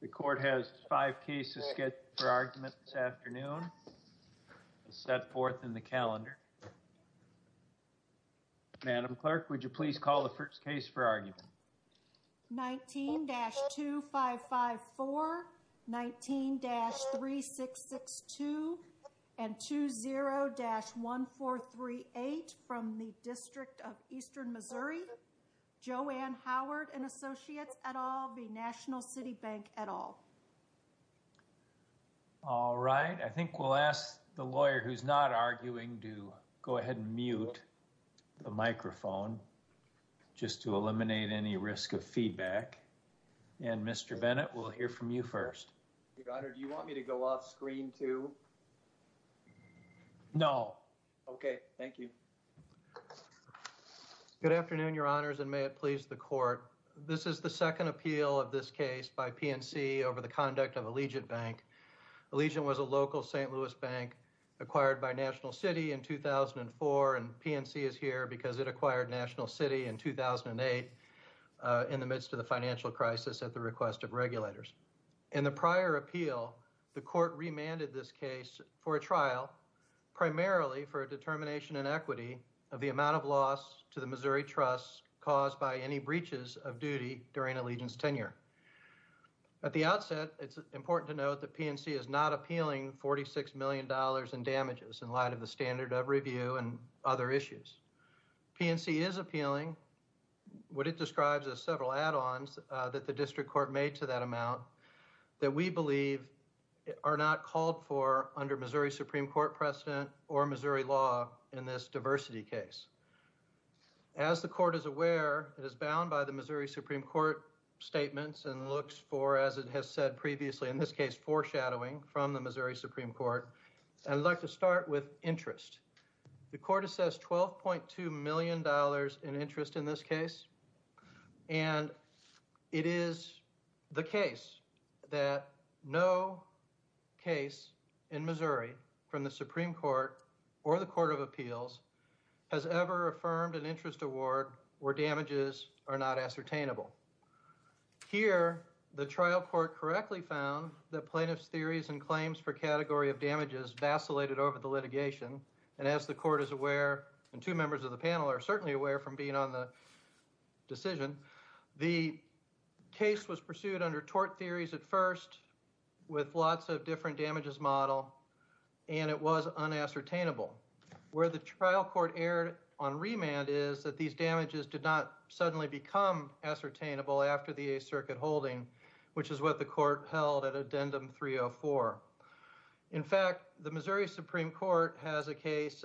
The court has five cases scheduled for argument this afternoon. Set forth in the calendar. Madam Clerk, would you please call the first case for argument. 19-2554 19-3662 and 20-1438 from the District of Eastern Missouri. Jo Ann Howard & Associates at all be National City Bank at all. All right. I think we'll ask the lawyer who's not arguing to go ahead and mute the microphone just to eliminate any risk of feedback. And Mr. Bennett, we'll hear from you first. Your Honor, do you want me to go off screen too? No. Okay. Thank you. Good afternoon, Your Honors, and may it be a pleasure to be here. This is the second appeal of this case by PNC over the conduct of Allegiant Bank. Allegiant was a local St. Louis bank acquired by National City in 2004 and PNC is here because it acquired National City in 2008 in the midst of the financial crisis at the request of regulators. In the prior appeal, the court remanded this case for a trial primarily for a determination in equity of the amount of loss to the Missouri Trust caused by any breaches of duty during Allegiant's tenure. At the outset, it's important to note that PNC is not appealing $46 million in damages in light of the standard of review and other issues. PNC is appealing what it describes as several add-ons that the District Court made to that amount that we believe are not called for under Missouri Supreme Court precedent or Missouri law in this diversity case. As the court is aware, it is bound by the Missouri Supreme Court statements and looks for, as it has said previously in this case, foreshadowing from the Missouri Supreme Court. I'd like to start with interest. The court assessed $12.2 million in interest in this case and it is the case that no case in Missouri from the Supreme Court or the Court of Appeals has ever affirmed an interest award where damages are not ascertainable. Here, the trial court correctly found that plaintiff's theories and claims for category of damages vacillated over the litigation and as the court is aware, and two members of the panel are certainly aware from being on the decision, the case was pursued under tort theories at first with lots of different damages model and it was unascertainable. Where the trial court erred on remand is that these damages did not suddenly become ascertainable after the 8th Circuit holding which is what the court held at Addendum 304. In fact, the Missouri Supreme Court has a case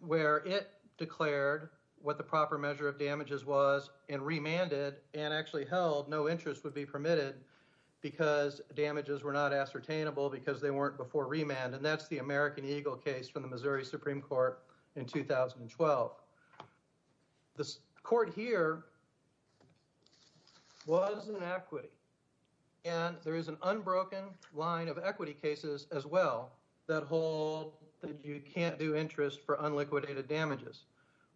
where it declared what the proper measure of damages was and remanded and actually held no interest would be permitted because damages were not ascertainable because they weren't before remand and that's the American Eagle case from the Missouri Supreme Court in 2012. The court here was in equity and there is an unbroken line of equity cases as well that hold that you can't do interest for unliquidated damages.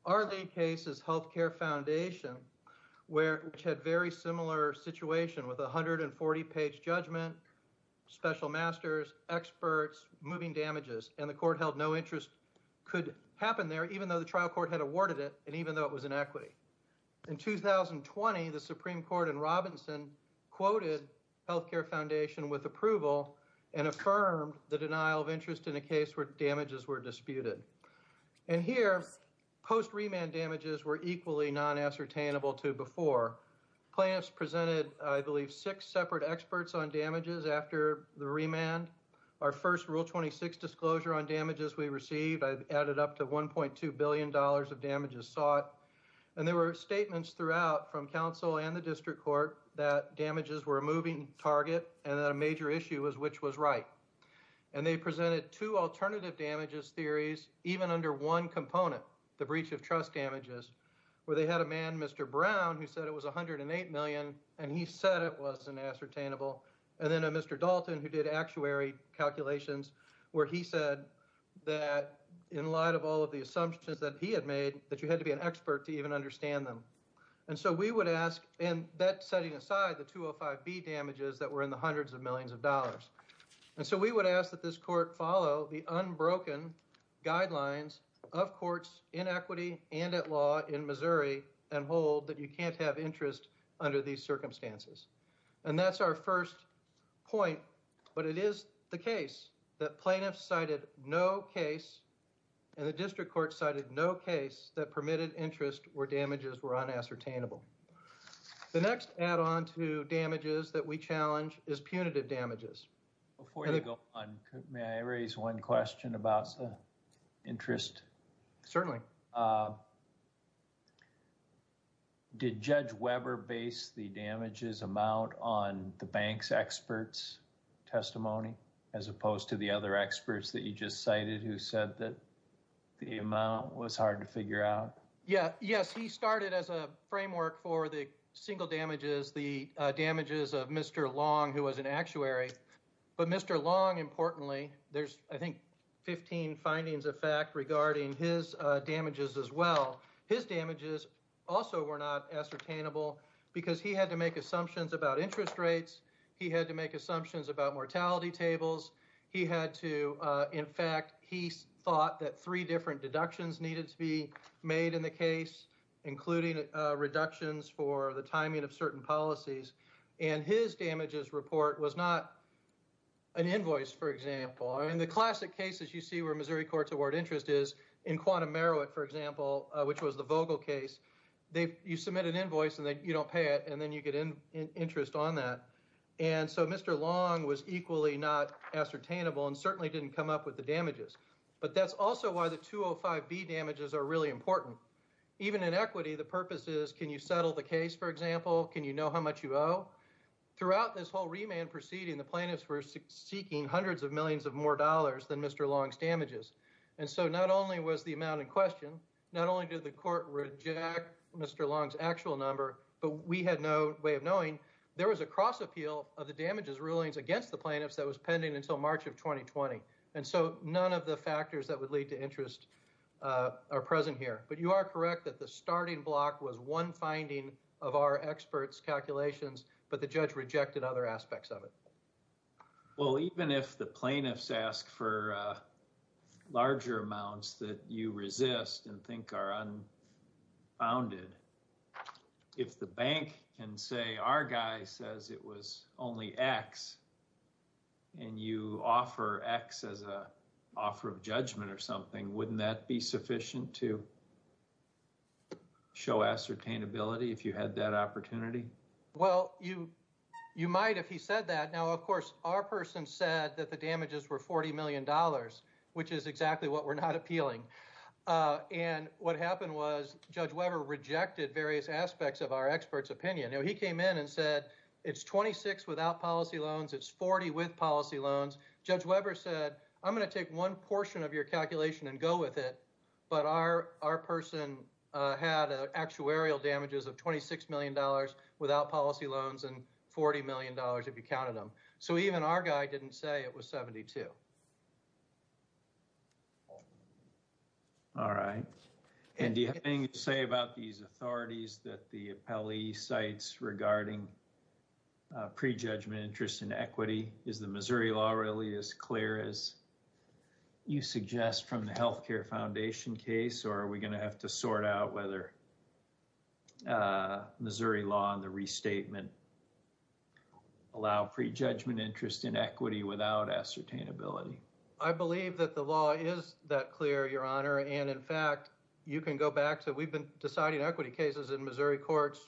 Our lead case is Healthcare Foundation which had very similar situation with 140 page judgment, special masters, experts, moving damages and the court held no interest could happen there even though the trial court had awarded it and even though it was in equity. In 2020, the Supreme Court in Robinson quoted Healthcare Foundation with approval and affirmed the denial of interest in a case where damages were disputed. And here post remand damages were equally non-ascertainable to before. Plaintiffs presented, I believe, six separate experts on damages after the remand. Our first Rule 26 disclosure on damages we received added up to $1.2 billion of damages sought and there were statements throughout from council and the district court that damages were a moving target and that a major issue was which was right. And they presented two alternative damages theories even under one component, the breach of trust damages, where they had a man, Mr. Brown, who said it was $108 million and he said it wasn't ascertainable. And then a Mr. Dalton who did actuary calculations where he said that in light of all of the assumptions that he had made that you had to be an expert to even understand them. And so we would ask, and that setting aside the 205B damages that were in the hundreds of millions of dollars. And so we would ask that this court follow the unbroken guidelines of courts in the 205B and hold that you can't have interest under these circumstances. And that's our first point, but it is the case that plaintiffs cited no case and the district court cited no case that permitted interest where damages were unascertainable. The next add-on to damages that we challenge is punitive damages. Before you go on, may I raise one question about the interest? Certainly. Did Judge Weber base the damages amount on the bank's expert's testimony as opposed to the other experts that you just cited who said that the amount was hard to figure out? Yes, he started as a framework for the single damages, the damages of Mr. Long, who was an actuary. But Mr. Long, importantly, there's I think 15 findings of fact regarding his damages as well. His damages also were not ascertainable because he had to make assumptions about interest rates. He had to make assumptions about mortality tables. He had to, in fact, he thought that three different deductions needed to be made in the case, including reductions for the timing of certain policies. And his damages report was not an invoice, for example. I mean, the classic cases you see where Missouri Courts award interest is in Quantum Meroweth, for example, which was the Vogel case. You submit an invoice and then you don't pay it, and then you get interest on that. And so Mr. Long was equally not ascertainable and certainly didn't come up with the damages. But that's also why the 205B damages are really important. Even in equity, the purpose is can you settle the case, for example? Can you know how much you owe? Throughout this whole remand proceeding, the plaintiffs were seeking hundreds of millions of more dollars than Mr. Long's damages. And so not only was the amount in question, not only did the court reject Mr. Long's actual number, but we had no way of knowing there was a cross-appeal of the damages rulings against the plaintiffs that was pending until March of 2020. And so none of the factors that would lead to interest are present here. But you are correct that the starting block was one finding of our experts' calculations, but the judge rejected other aspects of it. Well, even if the plaintiffs ask for larger amounts that you resist and think are unfounded, if the bank can say our guy says it was only X and you offer X as an offer of judgment or something, wouldn't that be sufficient to show ascertainability if you had that opportunity? Well, you might if he said that. Now, of course, our person said that the damages were $40 million, which is exactly what we're not appealing. And what happened was Judge Weber rejected various aspects of our experts' opinion. He came in and said it's $26 without policy loans, it's $40 with policy loans. Judge Weber said, I'm going to take one portion of your calculation and go with it. But our person had actuarial damages of $26 million without policy loans and $40 million if you counted them. So even our guy didn't say it was $72. All right. And do you have anything to say about these authorities that the appellee cites regarding prejudgment, interest and equity? Is the Missouri law really as clear as you suggest from the Health Care Foundation case, or are we going to have to Missouri law and the restatement allow prejudgment, interest and equity without ascertainability? I believe that the law is that clear, Your Honor. And in fact, you can go back to we've been deciding equity cases in Missouri courts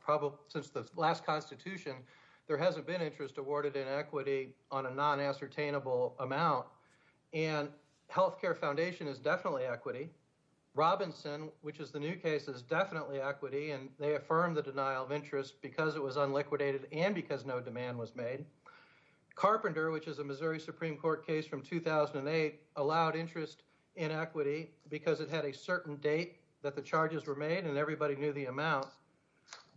probably since the last Constitution. There hasn't been interest awarded in equity on a non-ascertainable amount. And Health Care Foundation is definitely equity. Robinson, which is the new case, is definitely equity. And they affirmed the denial of interest because it was unliquidated and because no demand was made. Carpenter, which is a Missouri Supreme Court case from 2008, allowed interest in equity because it had a certain date that the charges were made and everybody knew the amount.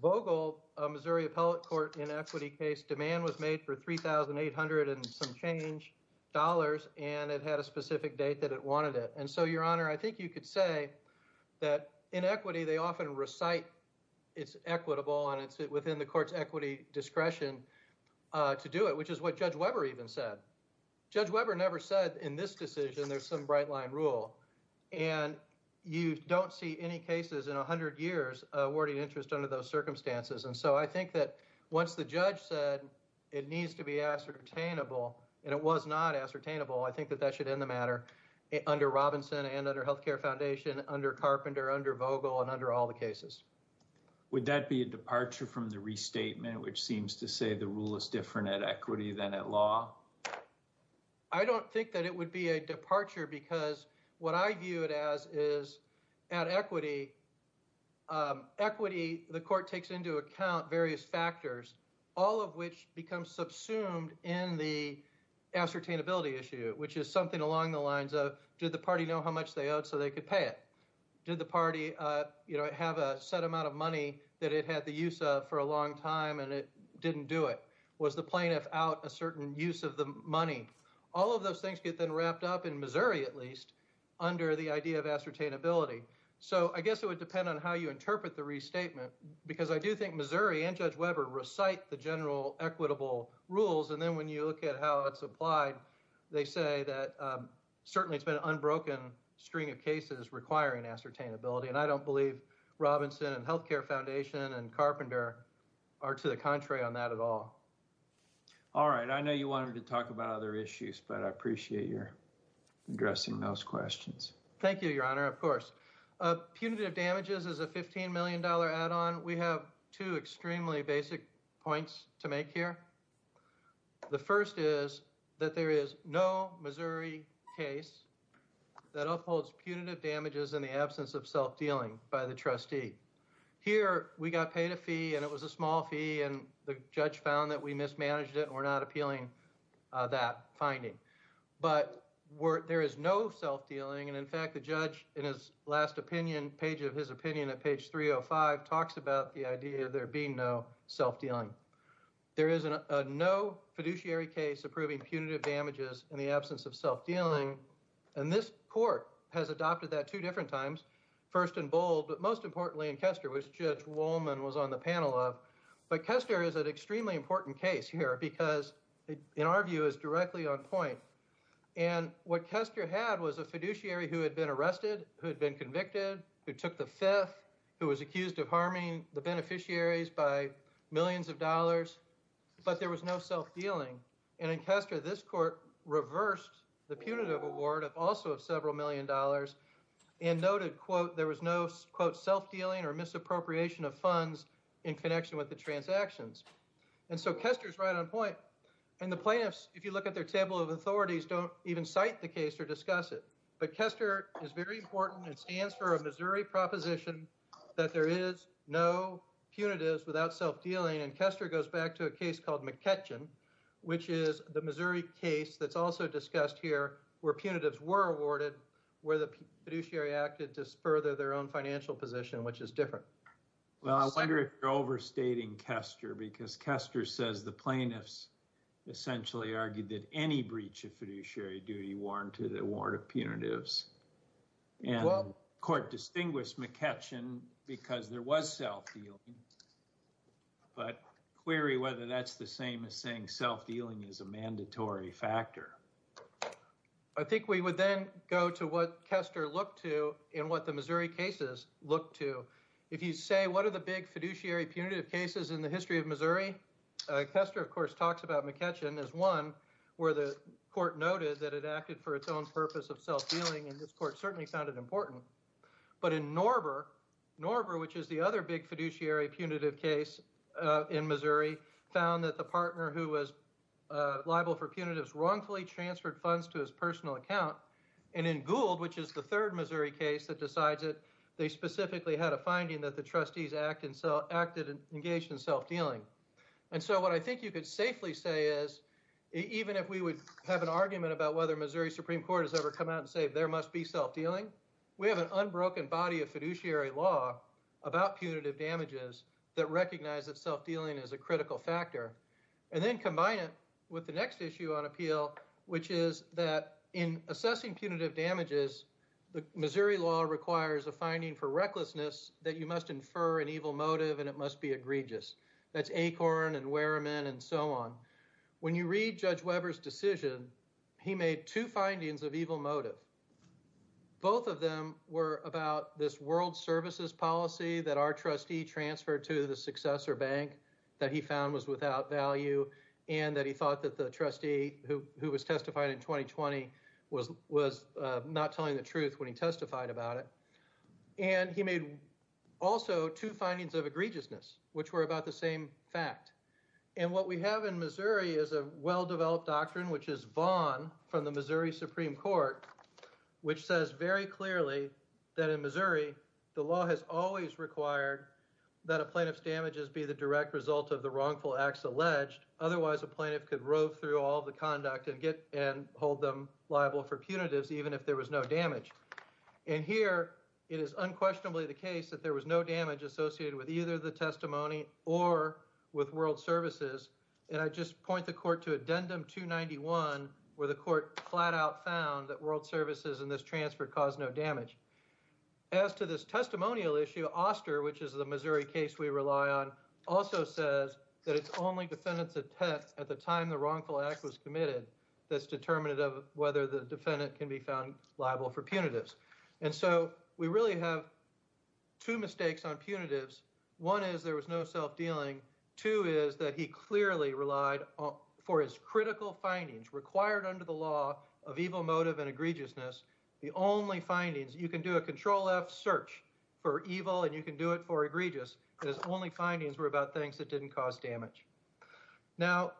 Vogel, a Missouri appellate court in equity case, demand was made for $3,800 and some change dollars, and it had a specific date that it wanted it. And so, Your Honor, that in equity, they often recite it's equitable and it's within the court's equity discretion to do it, which is what Judge Weber even said. Judge Weber never said in this decision there's some bright line rule. And you don't see any cases in 100 years awarding interest under those circumstances. And so, I think that once the judge said it needs to be ascertainable and it was not ascertainable, I think that that should end the matter under Robinson and under Healthcare Foundation, under Carpenter, under Vogel, and under all the cases. Would that be a departure from the restatement, which seems to say the rule is different at equity than at law? I don't think that it would be a departure because what I view it as is at equity, equity the court takes into account various factors, all of which become subsumed in the ascertainability issue, which is something along the lines of did the party know how much they owed so they could pay it? Did the party have a set amount of money that it had the use of for a long time and it didn't do it? Was the plaintiff out a certain use of the money? All of those things get then wrapped up in Missouri at least under the idea of ascertainability. So, I guess it would depend on how you interpret the restatement because I do think Missouri and Judge Weber recite the general equitable rules and then when you look at how it's applied, they say that certainly it's been an unbroken string of cases requiring ascertainability and I don't believe Robinson and Healthcare Foundation and Carpenter are to the contrary on that at all. Alright, I know you wanted to talk about other issues but I appreciate your addressing those questions. Thank you, Your Honor. Of course. Punitive damages is a $15 million add-on. We have two extremely basic points to make here. The first is that there is no Missouri case that upholds punitive damages in the absence of self-dealing by the trustee. Here, we got paid a fee and it was a small fee and the judge found that we mismanaged it and we're not appealing that finding. But, there is no self-dealing and in fact the judge in his last opinion, page of his opinion at page 305 talks about the idea there being no self-dealing. There is no fiduciary case approving punitive damages in the absence of self-dealing and this court has adopted that two different times, first in Bold but most importantly in Kester which Judge Wolman was on the panel of. But, Kester is an extremely important case here because in our view is directly on point and what Kester had was a fiduciary who had been arrested, who had been convicted, who took the theft, who was accused of harming the beneficiaries by millions of dollars, but there was no self-dealing. And in Kester, this court reversed the punitive award of also several million dollars and noted quote, there was no quote self-dealing or misappropriation of funds in connection with the transactions. And so, Kester is right on point and the plaintiffs, if you look at their table of authorities, don't even cite the case or discuss it. But, Kester is very important and stands for a Missouri proposition that there is no punitives without self-dealing and Kester goes back to a case called McKetchin which is the Missouri case that's also discussed here where punitives were awarded where the fiduciary acted to further their own financial position which is different. Well, I wonder if you're overstating Kester because Kester says the plaintiffs essentially argued that any breach of fiduciary duty warranted award of punitives. And the court distinguished McKetchin because there was self-dealing, but query whether that's the same as saying self-dealing is a mandatory factor. I think we would then go to what Kester looked to and what the Missouri cases looked to. If you say what are the big fiduciary punitive cases in the history of Missouri? Kester, of course, talks about McKetchin as one where the court noted that it acted for its own purpose of self-dealing and this court certainly found it important. But in Norber, which is the other big fiduciary punitive case in Missouri, found that the partner who was liable for punitives wrongfully transferred funds to his personal account and in Gould, which is the third Missouri case that decides it, they specifically had a finding that the trustees acted and engaged in self-dealing. And so what I think you could safely say is even if we would have an argument about whether Missouri Supreme Court has ever come out and said there must be self-dealing, we have an unbroken body of fiduciary law about punitive damages that recognize that self-dealing is a critical factor. And then combine it with the next issue on appeal, which is that in assessing punitive damages, the Missouri law requires a finding for recklessness that you must infer an evil motive and it must be egregious. That's Acorn and Reed Judge Weber's decision, he made two findings of evil motive. Both of them were about this world services policy that our trustee transferred to the successor bank that he found was without value and that he thought that the trustee who was testified in 2020 was not telling the truth when he testified about it. And he made also two findings of egregiousness, which were about the same fact. And what we have in Missouri is a well-developed doctrine, which is Vaughn from the Missouri Supreme Court, which says very clearly that in Missouri the law has always required that a plaintiff's damages be the direct result of the wrongful acts alleged otherwise a plaintiff could rove through all the conduct and hold them liable for punitives even if there was no damage. And here it is unquestionably the case that there was no damage associated with either the world services, and I just point the court to Addendum 291 where the court flat out found that world services in this transfer caused no damage. As to this testimonial issue, Oster, which is the Missouri case we rely on, also says that it's only defendants at the time the wrongful act was committed that's determinative of whether the defendant can be found liable for punitives. And so we really have two mistakes on punitives. One is there was no self-dealing. Two is that he clearly relied for his critical findings required under the law of evil motive and egregiousness. The only findings, you can do a control F search for evil and you can do it for egregious. His only findings were about things that didn't cause damage. Now,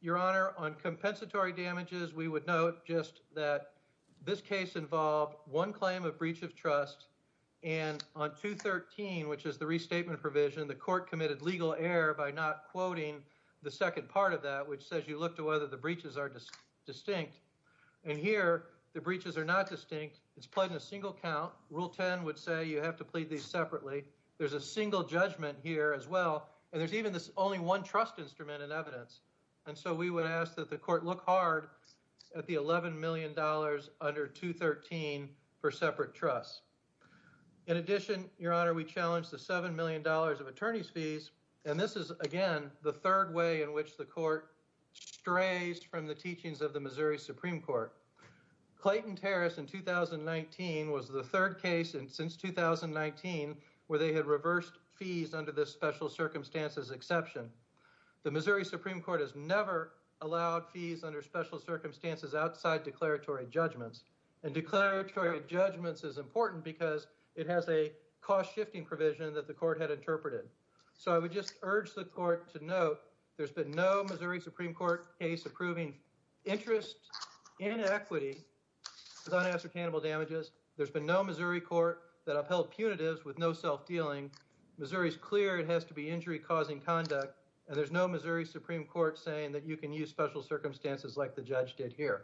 Your Honor, on compensatory damages we would note just that this case involved one claim of breach of trust and on 213, which is the restatement provision, the court committed legal error by not quoting the second part of that, which says you look to whether the breaches are distinct. And here the breaches are not distinct. It's pledged in a single count. Rule 10 would say you have to plead these separately. There's a single judgment here as well, and there's even this only one trust instrument in evidence. And so we would ask that the court look hard at the $11 million under 213 for separate trusts. In addition, Your Honor, we challenge the $7 million of attorney's fees, and this is, again, the third way in which the court strays from the teachings of the Missouri Supreme Court. Clayton Terrace in 2019 was the third case since 2019 where they had reversed fees under this special circumstances exception. The Missouri Supreme Court has never allowed fees under special circumstances outside declaratory judgments. And declaratory judgments is important because it has a cost-shifting provision that the court had interpreted. So I would just urge the court to note there's been no Missouri Supreme Court case approving interest in equity with unassertainable damages. There's been no Missouri court that upheld punitives with no self-dealing. Missouri's clear it has to be injury-causing conduct, and there's no Missouri Supreme Court saying that you can use special circumstances like the judge did here.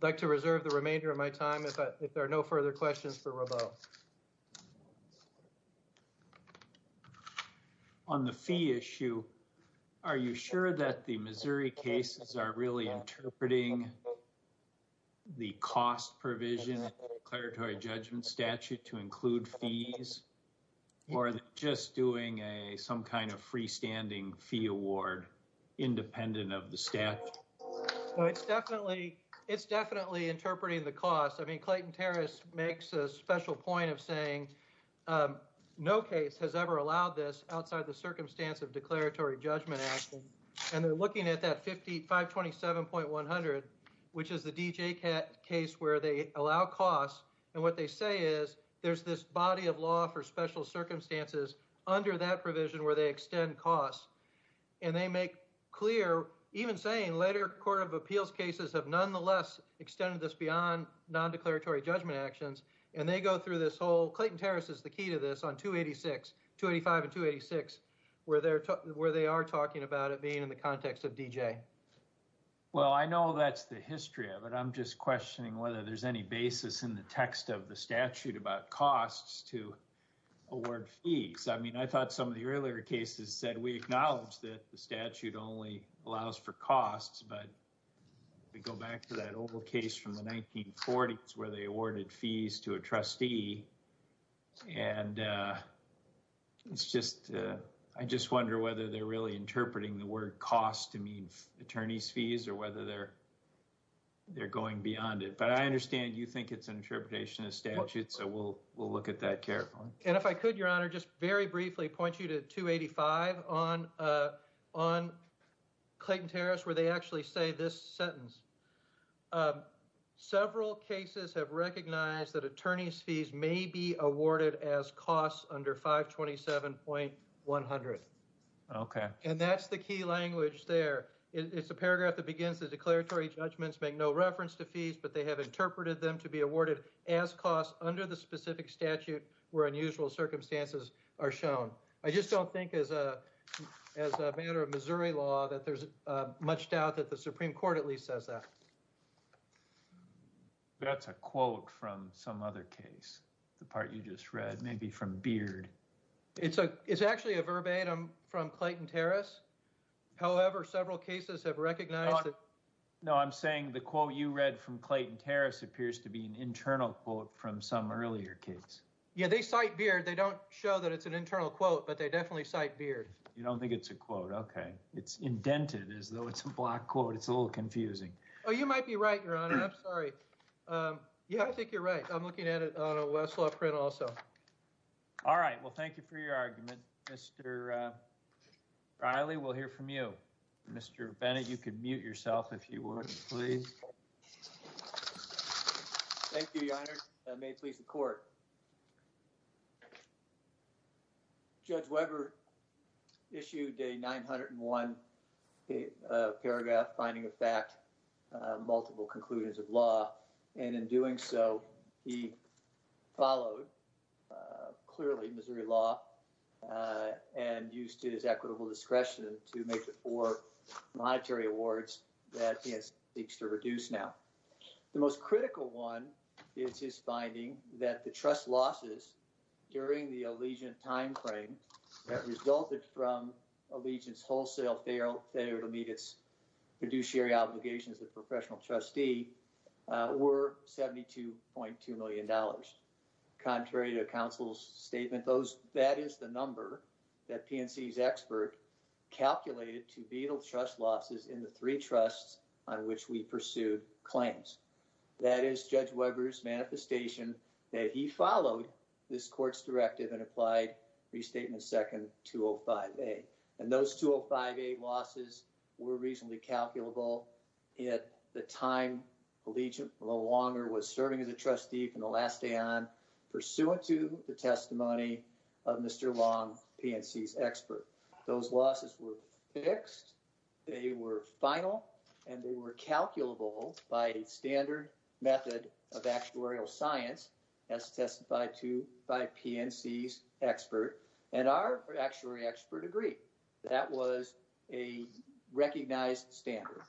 I'd like to reserve the remainder of my time if there are no further questions for Rabeau. On the fee issue, are you sure that the Missouri cases are really interpreting the cost provision in the declaratory judgment statute to include fees, or just doing some kind of freestanding fee award independent of the cost? It's definitely interpreting the cost. Clayton Terras makes a special point of saying no case has ever allowed this outside the circumstance of declaratory judgment action. And they're looking at that 527.100, which is the DJ case where they allow costs. And what they say is there's this body of law for special circumstances under that provision where they extend costs. And they make clear, even saying later court of appeals cases have nonetheless extended this beyond non-declaratory judgment actions. Clayton Terras is the key to this on 285 and 286 where they are talking about it being in the context of DJ. Well, I know that's the history of it. I'm just questioning whether there's any basis in the text of the statute about costs to award fees. I mean, I thought some of the earlier cases said we acknowledge that the statute only allows for costs. But if we go back to that old case from the 1940s where they awarded fees to a trustee and it's just I just wonder whether they're really interpreting the word cost to mean attorney's fees or whether they're going beyond it. But I understand you think it's an interpretation of the statute, so we'll look at that carefully. And if I could, Your Honor, just very briefly point you to 285 on Clayton Terras where they actually say this sentence. Several cases have recognized that attorney's fees may be awarded as costs under 527.100. Okay. And that's the key language there. It's a paragraph that begins the declaratory judgments make no reference to fees, but they have interpreted them to be awarded as costs under the specific statute where unusual circumstances are shown. I just don't think as a matter of Missouri law that there's much doubt that the Supreme Court at least says that. That's a quote from some other case. The part you just read. Maybe from Beard. It's actually a verbatim from Clayton Terras. However, several cases have recognized No, I'm saying the quote you read from Clayton Terras appears to be an internal quote from some earlier case. Yeah, they cite Beard. They don't show that it's an internal quote, but they definitely cite Beard. You don't think it's a quote. Okay. It's indented as though it's a black quote. It's a little confusing. Oh, you might be right, Your Honor. I'm sorry. Yeah, I think you're right. I'm looking at it on a Westlaw print also. All right. Well, thank you for your argument. Mr. Riley, we'll hear from you. Mr. Bennett, you can mute yourself if you would, please. Thank you, Your Honor. May it please the Court. Judge Weber issued a 901 paragraph finding of fact multiple conclusions of law and in doing so, he followed clearly Missouri law and used his equitable discretion to make the four monetary awards that PNC seeks to reduce now. The most critical one is his finding that the trust losses during the Allegiant time frame that resulted from Allegiant's wholesale failure to meet its fiduciary obligations as a professional trustee were $72.2 million. Contrary to counsel's statement, that is the number that PNC's expert calculated to be the trust losses in the three trusts on which we pursued claims. That is Judge Weber's manifestation that he followed this Court's directive and applied Restatement Second 205A. And those 205A losses were reasonably calculable at the time Allegiant no longer was serving as a trustee from the last day on, pursuant to the testimony of Mr. Long, PNC's expert. Those losses were fixed, they were final and they were calculable by a standard method of actuarial science, as testified to by PNC's expert, and our actuary expert agreed. That was a recognized standard.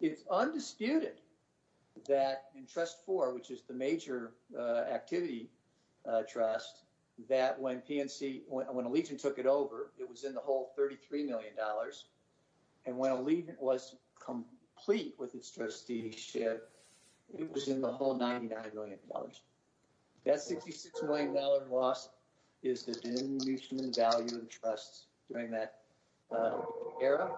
It's undisputed that in Trust 4, which is the major activity trust, that when Allegiant took it over, it was in the whole $33 million and when Allegiant was complete with its trusteeship it was in the whole $99 million. That $66 million loss is the diminution in value of the trusts during that era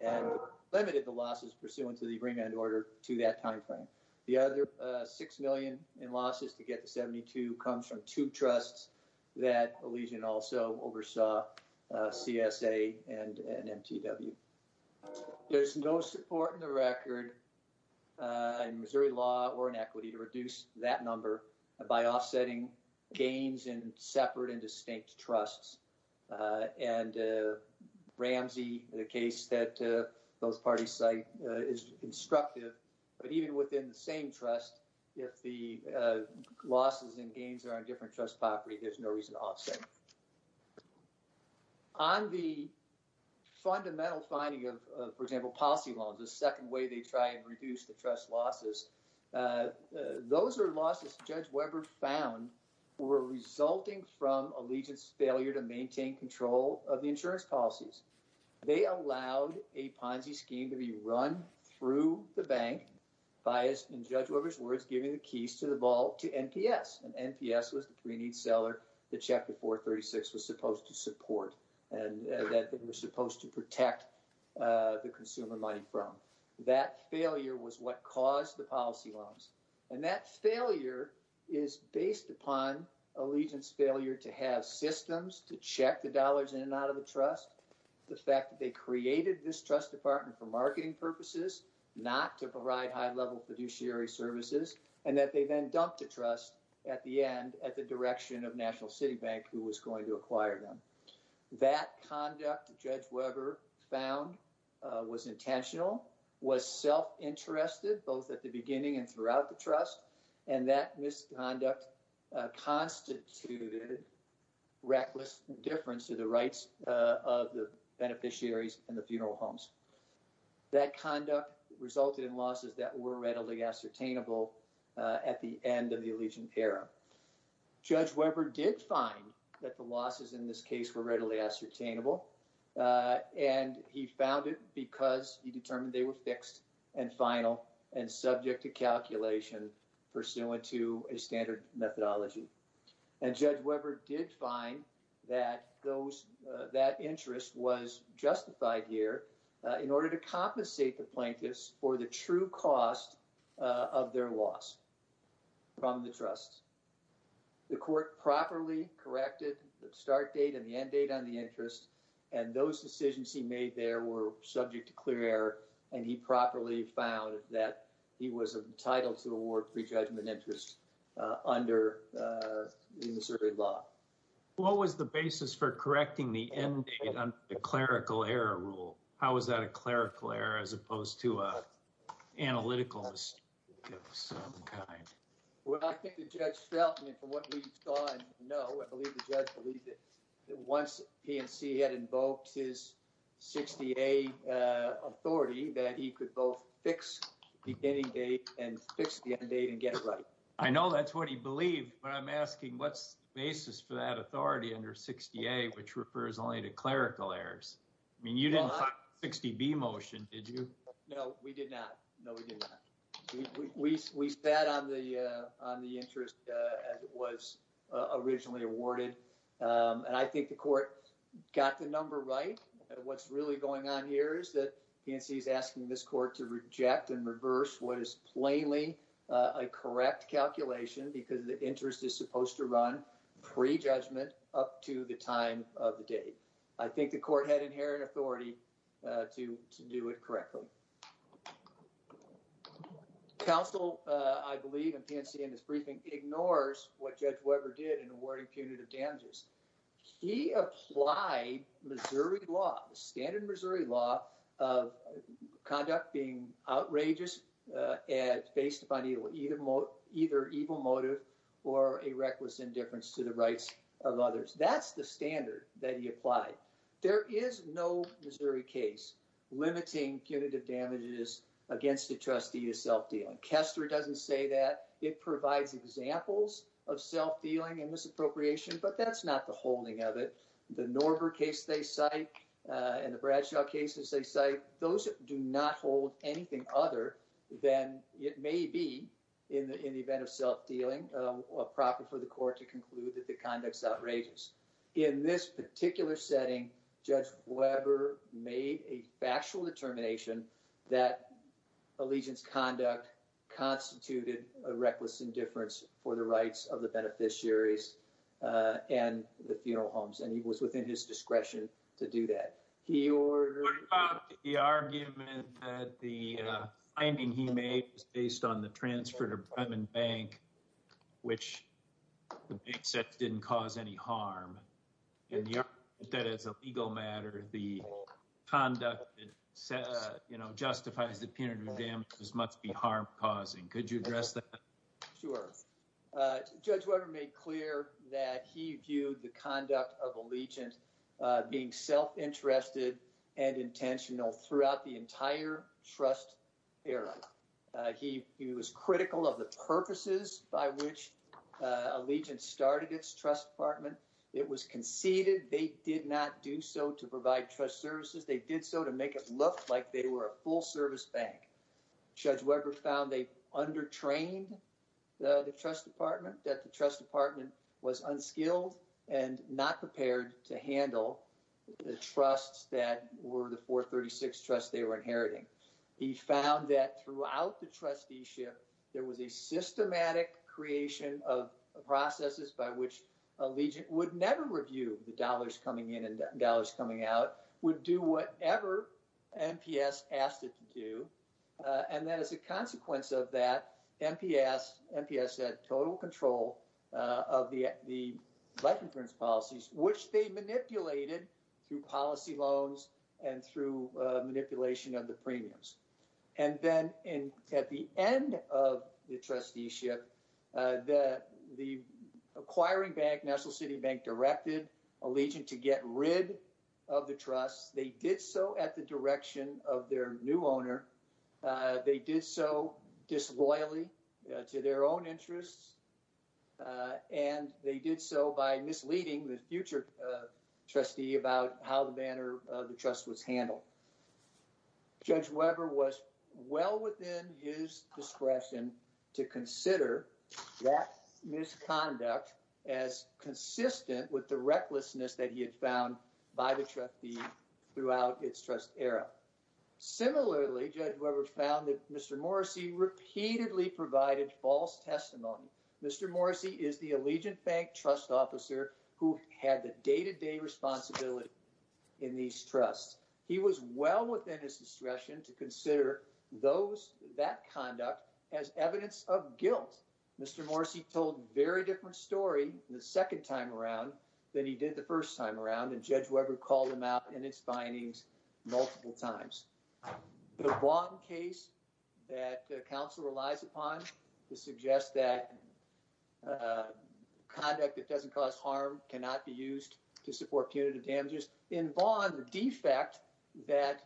and limited the losses pursuant to the remand order to that time frame. The other $6 million in losses to get to $72 million comes from two trusts that Allegiant also oversaw, CSA and MTW. There's no support in the record in Missouri law or in equity to reduce that number by offsetting gains in separate and distinct trusts and Ramsey the case that both parties cite is constructive but even within the same trust, if the PNC does not support it, there's no reason to offset it. On the fundamental finding of, for example, policy loans, the second way they try and reduce the trust losses, those are losses Judge Weber found were resulting from Allegiant's failure to maintain control of the insurance policies. They allowed a Ponzi scheme to be run through the bank by, in Judge Weber's words, giving the keys to the vault to NPS. NPS was the seller that checked the 436 was supposed to support and was supposed to protect the consumer money from. That failure was what caused the policy loans and that failure is based upon Allegiant's failure to have systems to check the dollars in and out of the trust, the fact that they created this trust department for marketing purposes, not to provide high-level fiduciary services, and that they then dumped the trust at the end at the direction of National City Bank, who was going to acquire them. That conduct, Judge Weber found was intentional, was self-interested, both at the beginning and throughout the trust, and that misconduct constituted reckless indifference to the rights of the beneficiaries and the funeral homes. That conduct resulted in losses that were readily ascertainable at the end of the Allegiant era. Judge Weber did find that the losses in this case were readily ascertainable, and he found it because he determined they were fixed and final and subject to calculation pursuant to a standard methodology. And Judge Weber did find that that interest was justified here in order to compensate the plaintiffs for the true cost of their loss from the trust. The court properly corrected the start date and the end date on the interest, and those decisions he made there were subject to clear error, and he properly found that he was entitled to award prejudgment interest under the Missouri law. What was the basis for correcting the end date under the clerical error rule? How was that a clerical error as opposed to an analytical mistake of some kind? Well, I think the judge felt, and from what we saw and know, I believe the judge believed that once PNC had invoked his 60A authority, that he could both fix the beginning date and fix the end date and get it right. I know that's what he believed, but I'm asking what's the basis for that authority under 60A, which refers only to clerical errors? I mean, you didn't have a 60B motion, did you? No, we did not. No, we did not. We sat on the interest as it was originally awarded, and I think the court got the number right. What's really going on here is that PNC is asking this court to reject and reverse what is plainly a mistake. The interest is supposed to run pre-judgment up to the time of the date. I think the court had inherent authority to do it correctly. Counsel, I believe, in PNC in his briefing ignores what Judge Weber did in awarding punitive damages. He applied Missouri law, the standard Missouri law of conduct being outrageous and based upon either evil motive or a reckless indifference to the rights of others. That's the standard that he applied. There is no Missouri case limiting punitive damages against a trustee of self-dealing. Kester doesn't say that. It provides examples of self-dealing and misappropriation, but that's not the holding of it. The Norber case they cite and the Bradshaw cases they cite, those do not hold anything other than it may be in the event of self-dealing appropriate for the court to conclude that the conduct is outrageous. In this particular setting, Judge Weber made a factual determination that allegiance conduct constituted a reckless indifference for the rights of the beneficiaries and the funeral homes. He was within his discretion to do that. He argued that the finding he made was based on the transfer to Bremen Bank which the bank said didn't cause any harm and that as a legal matter the conduct that justifies the punitive damages must be harm-causing. Could you address that? Sure. Judge Weber made clear that he viewed the conduct of allegiance being self-interested and intentional throughout the entire trust era. He was critical of the purposes by which allegiance started its trust department. It was conceded they did not do so to provide trust services. They did so to make it look like they were a full-service bank. Judge Weber found they under-trained the trust department, that the trust department was unskilled and not prepared to handle the trusts that were the 436 trusts they were inheriting. He found that throughout the trusteeship there was a systematic creation of processes by which allegiance would never review the dollars coming in and dollars coming out, would do whatever NPS asked it to do, and that as a consequence of that, NPS had total control of the life insurance policies, which they manipulated through policy loans and through manipulation of the premiums. And then at the end of the trusteeship, the acquiring bank, National City Bank, directed allegiance to get rid of the trusts. They did so at the direction of their new owner. They did so disloyally to their own interests, and they did so by misleading the future trustee about how the banner of the trust was handled. Judge Weber was well within his discretion to consider that misconduct as consistent with the recklessness that he had found by the trustee throughout its trust era. Similarly, Judge Weber found that Mr. Morrissey repeatedly provided false testimony. Mr. Morrissey is the Allegiant Bank trust officer who had the day-to-day responsibility in these trusts. He was well within his discretion to consider that conduct as evidence of guilt. Mr. Morrissey told a very different story the second time around than he did the first time around, and Judge Weber called him out in its findings multiple times. The Vaughn case that counsel relies upon to suggest that conduct that doesn't cause harm cannot be used to support punitive damages. In Vaughn, the defect that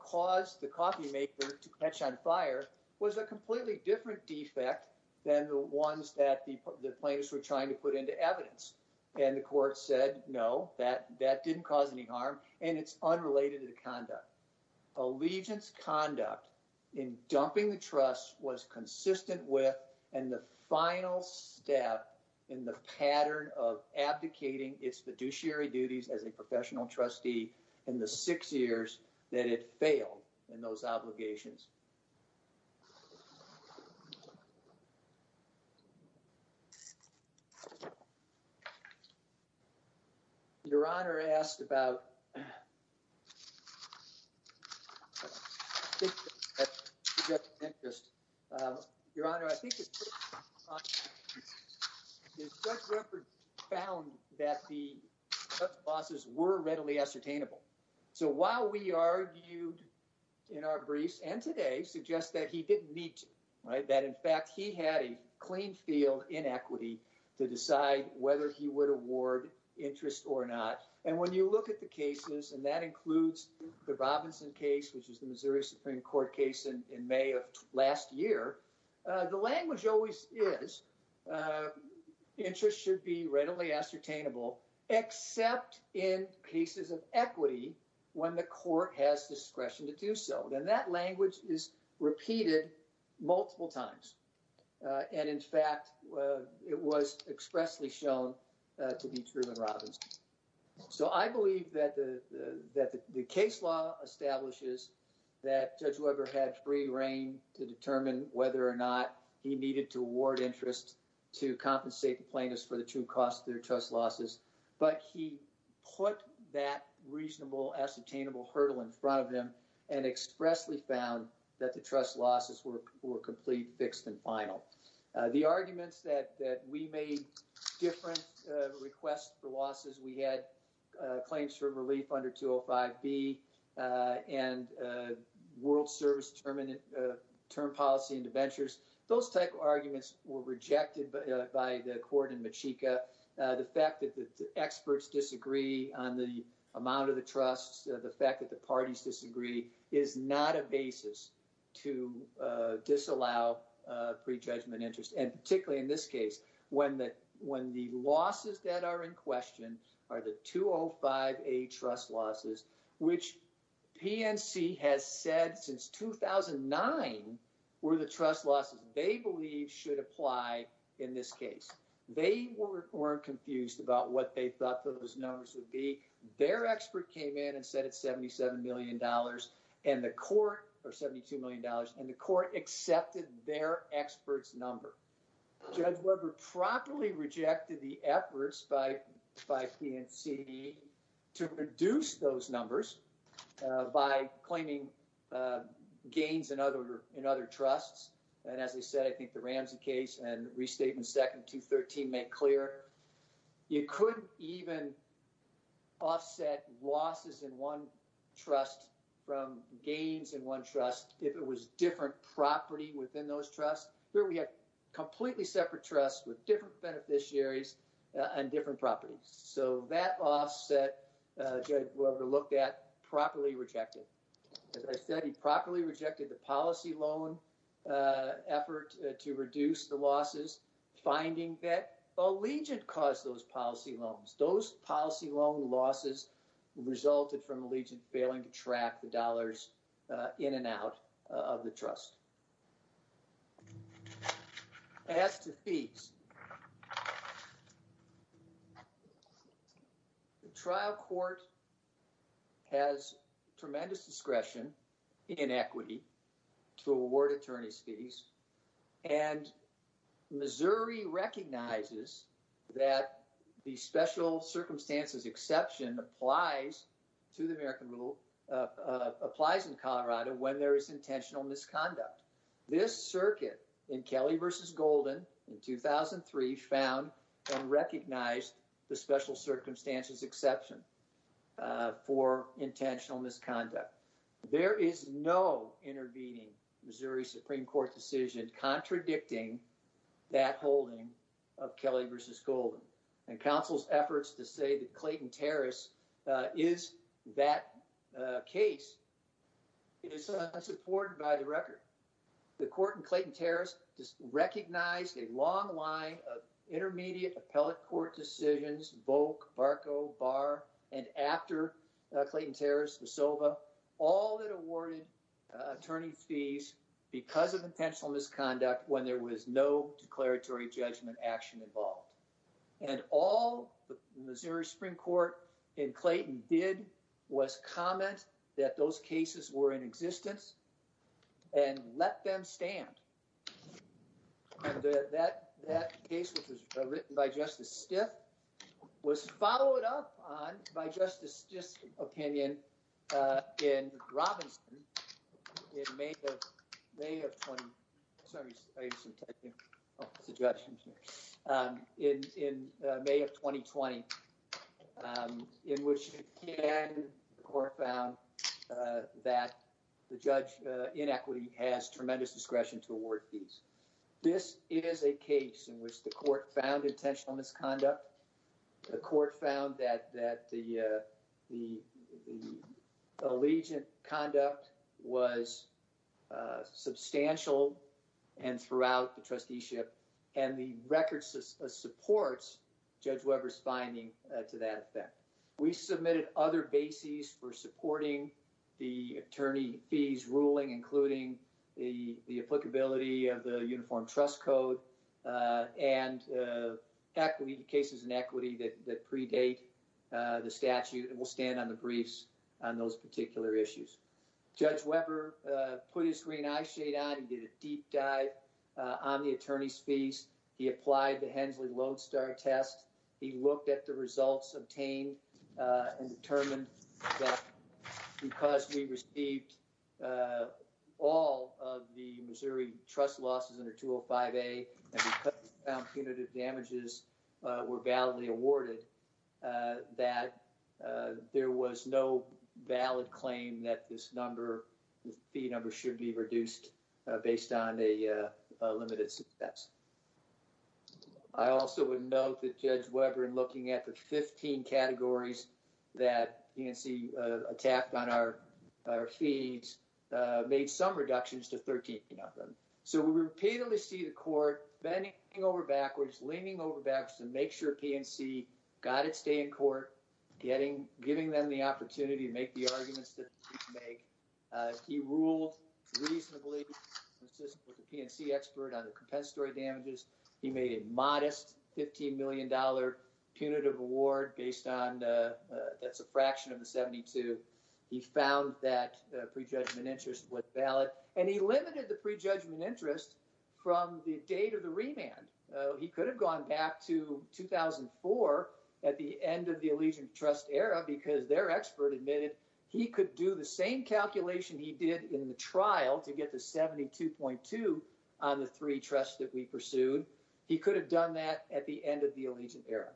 caused the coffee maker to catch on fire was a completely different defect than the ones that the plaintiffs were trying to put into evidence, and the court said, no, that didn't cause any harm, and it's unrelated to the conduct. Allegiant's conduct in dumping the trust was consistent with, and the final step in the pattern of abdicating its fiduciary duties as a professional trustee in the six years that it failed in those obligations. Your Honor, I think that Judge Weber found that the losses were readily ascertainable. So while we were readily ascertainable. So while we argued that Judge Weber had a clean field in equity to decide whether he would award interest or not, and when you look at the cases, and that includes the Robinson case, which is the Missouri Supreme Court case in May of last year, the language always is interest should be readily ascertainable, except in cases of equity when the court has discretion to do so. And that language is repeated multiple times. And in fact, it was expressly shown to be true in Robinson. So I believe that the case law establishes that Judge Weber had free reign to determine whether or not he needed to award interest to compensate the plaintiffs for the true cost of their trust losses, but he put that reasonable ascertainable hurdle in front of him and expressly found that the trust losses were complete, fixed, and final. The arguments that we made different requests for losses, we had claims for relief under 205B and World Service term policy interventions. Those type of arguments were rejected by the court in Machika. The fact that the experts disagree on the amount of the trusts, the fact that the parties disagree is not a basis to disallow prejudgment interest. And particularly in this case, when the losses that are in question are the 205A trust losses, which PNC has said since 2009 were the trust losses they believe should apply in this case. They weren't confused about what they thought those numbers would be. Their expert came in and said it's $77 million and the court accepted their expert's number. Judge Weber properly rejected the efforts by PNC to reduce those numbers by claiming gains in other trusts and as I said, I think the Ramsey case and restatement second to 13 make clear, you couldn't even offset losses in one trust from gains in one trust if it was different property within those trusts. Here we have completely separate trusts with different beneficiaries and different properties. So that offset Judge Weber looked at, properly rejected. As I said, he properly rejected the policy loan effort to reduce the losses, finding that Allegiant caused those policy loans. Those policy loan losses resulted from Allegiant failing to track the dollars in and out of the trust. As to fees, the trial court has tremendous discretion in equity to award attorneys' fees and Missouri recognizes that the special circumstances exception applies to the American rule, applies in Colorado when there is intentional misconduct. This circuit in Kelly v. Golden in 2003 found and recognized the special circumstances exception for intentional misconduct. There is no intervening Missouri Supreme Court decision contradicting that holding of Kelly v. Golden and counsel's efforts to say that Clayton Terrace is that case is not supported by the record. The court in Clayton Terrace recognized a long line of intermediate appellate court decisions, Volk, Barco, Barr, and after Clayton Terrace, the Sova, all that awarded attorney fees because of intentional misconduct when there was no declaratory judgment action involved. And all the Missouri Supreme Court in Clayton did was comment that those cases were in existence and let them stand. And that case, which was written by Justice Stiff, was followed up on by Justice Stiff's opinion in Robinson in May of 2020. In May of 2020, in which the court found that the judge in equity has tremendous discretion to award fees. This is a case in which the court found intentional misconduct. The court found that the allegiant conduct was substantial and throughout the trusteeship and the record supports Judge Weber's finding to that effect. We submitted other bases for supporting the attorney fees ruling, including the applicability of the Uniform Trust Code and cases in equity that predate the statute and will stand on the briefs on those particular issues. Judge Weber put his green eye shade on. He did a deep dive on the attorney's fees. He applied the Hensley-Lodestar test. He looked at the results obtained and determined that because we received all of the Missouri trust losses under 205A and because we found punitive damages were validly awarded, that there was no valid claim that this fee number should be reduced based on a limited success. I also would note that Judge Weber, in looking at the 15 categories that PNC attacked on our fees, made some reductions to 13 of them. So we repeatedly see the court bending over backwards, leaning over backwards to make sure PNC got its day in court, giving them the opportunity to make the arguments that they need to make. He ruled reasonably consistent with the PNC expert on the compensatory damages. He made a modest $15 million punitive award based on, that's a fraction of the 72. He found that prejudgment interest was valid. And he limited the prejudgment interest from the date of the remand. He could have gone back to 2004 at the end of the Allegiant Trust era because their expert admitted he could do the same calculation he did in the trial to get the 72.2 on the three trusts that we pursued. He could have done that at the end of the Allegiant era.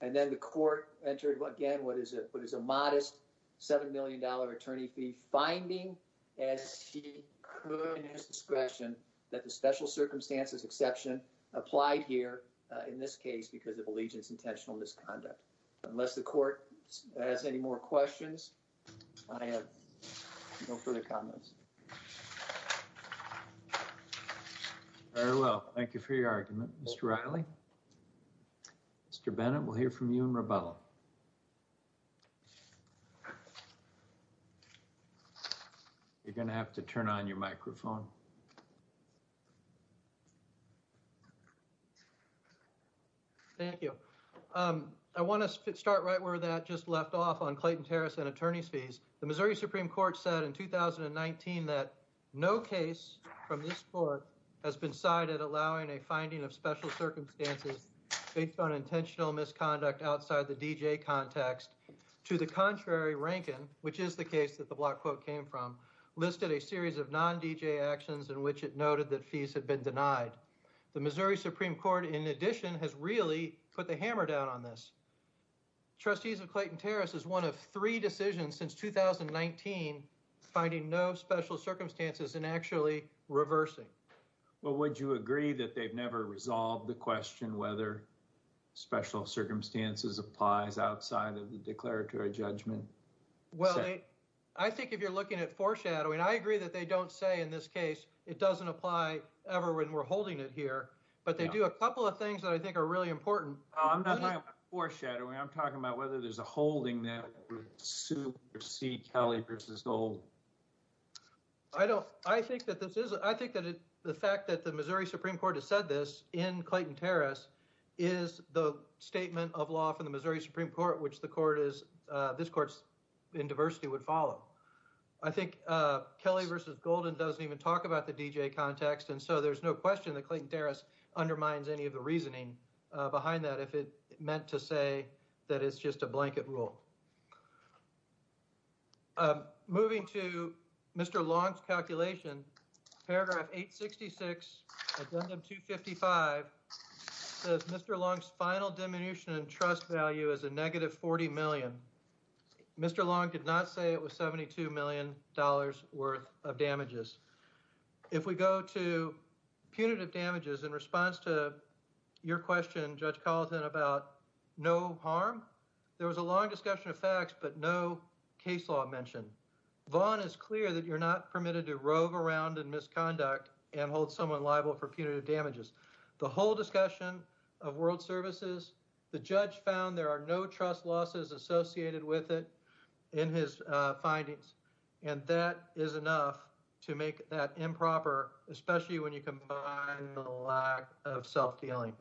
And then the court entered, again, what is a modest $7 million attorney fee finding as he could in his discretion that the special circumstances exception applied here in this case because of Allegiant's intentional misconduct. Unless the court has any more questions, I have no further comments. Very well. Thank you for your argument. Mr. Riley? Mr. Bennett, we'll hear from you in Rebella. You're going to have to turn on your microphone. Thank you. I want to start right where that just left off on Clayton Harris and attorney's fees. The Missouri Supreme Court said in 2019 that no case from this court has been cited allowing a finding of special circumstances based on intentional misconduct outside the DJ context to the contrary Rankin, which is the case that the block quote came from, listed a series of non-DJ actions in which it noted that fees had been denied. The Missouri Supreme Court, in addition, has really put the hammer down on this. Trustees of Clayton Harris is one of three decisions since 2019 finding no special circumstances and actually reversing. Would you agree that they've never resolved the question whether special circumstances applies outside of the declaratory judgment? Well, I think if you're looking at foreshadowing, I agree that they don't say in this case it doesn't apply ever when we're holding it here, but they do a couple of things that I think are really important. I'm not talking about foreshadowing. I'm talking about whether there's a holding that would supersede Kelly v. Gold. I think that the fact that the Missouri Supreme Court has said this in Clayton Harris is the statement of law from the Missouri Supreme Court, which this court in diversity would follow. I think Kelly v. Golden doesn't even talk about the DJ context, and so there's no question that Clayton Harris undermines any of the reasoning behind that if it meant to say that it's just a blanket rule. Moving to Mr. Long's calculation, paragraph 866, addendum 255, says Mr. Long's final diminution in trust value is a negative $40 million. Mr. Long did not say it was $72 million worth of damages. If we go to punitive damages in response to your question, Judge Colleton, about no harm, there was a long discussion of facts, but no case law mentioned. Vaughn is clear that you're not permitted to rogue around in misconduct and hold someone liable for punitive damages. The whole discussion of world services, the judge found there are no trust losses associated with it in his findings, and that is enough to make that improper, especially when you combine the lack of self-dealing.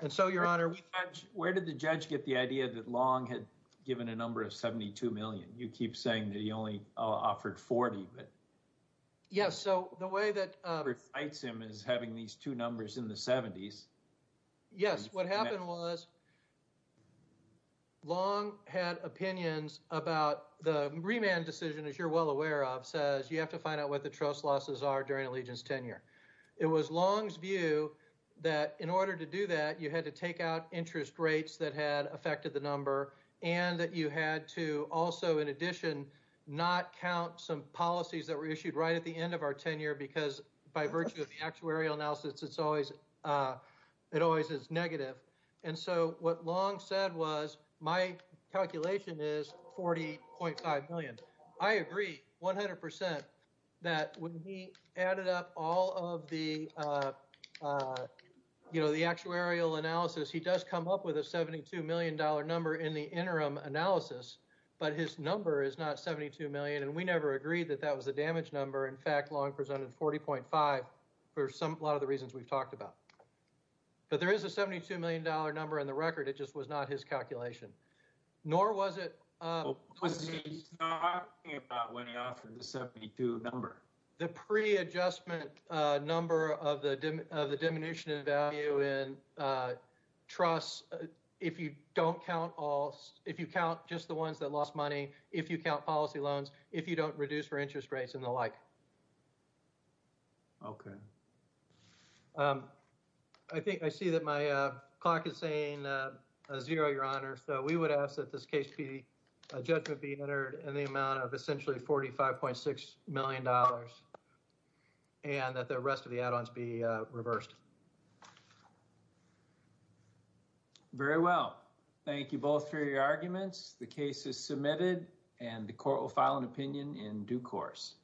And so, Your Honor— Where did the judge get the idea that Long had given a number of $72 million? You keep saying that he only offered $40 million. Yes, so the way that— He cites him as having these two numbers in the 70s. Yes, what happened was Long had opinions about the remand decision, as you're well aware of, says you have to find out what the trust losses are during allegiance tenure. It was Long's view that in order to do that, you had to take out interest rates that had affected the number, and that you had to also, in addition, not count some policies that were issued right at the end of our tenure, because by virtue of the actuarial analysis, it always is negative. And so, what Long said was, my calculation is $40.5 million. I agree 100% that when he added up all of the actuarial analysis, he does come up with a $72 million number in the interim analysis, but his number is not $72 million, and we never agreed that that was the damage number. In fact, Long presented $40.5 for a lot of the reasons we've talked about. But there is a $72 million number in the record, it just was not his calculation. Nor was it— What was he talking about when he offered the $72 number? The pre-adjustment number of the diminution in value in trusts, if you don't count all— if you count just the ones that lost money, if you count policy loans, if you don't reduce your interest rates, and the like. Okay. I think I see that my clock is saying zero, Your Honor, so we would ask that this case be—a judgment be entered in the amount of essentially $45.6 million, and that the rest of the add-ons be reversed. Very well. Thank you both for your arguments. The case is submitted and the Court will file an opinion in due course.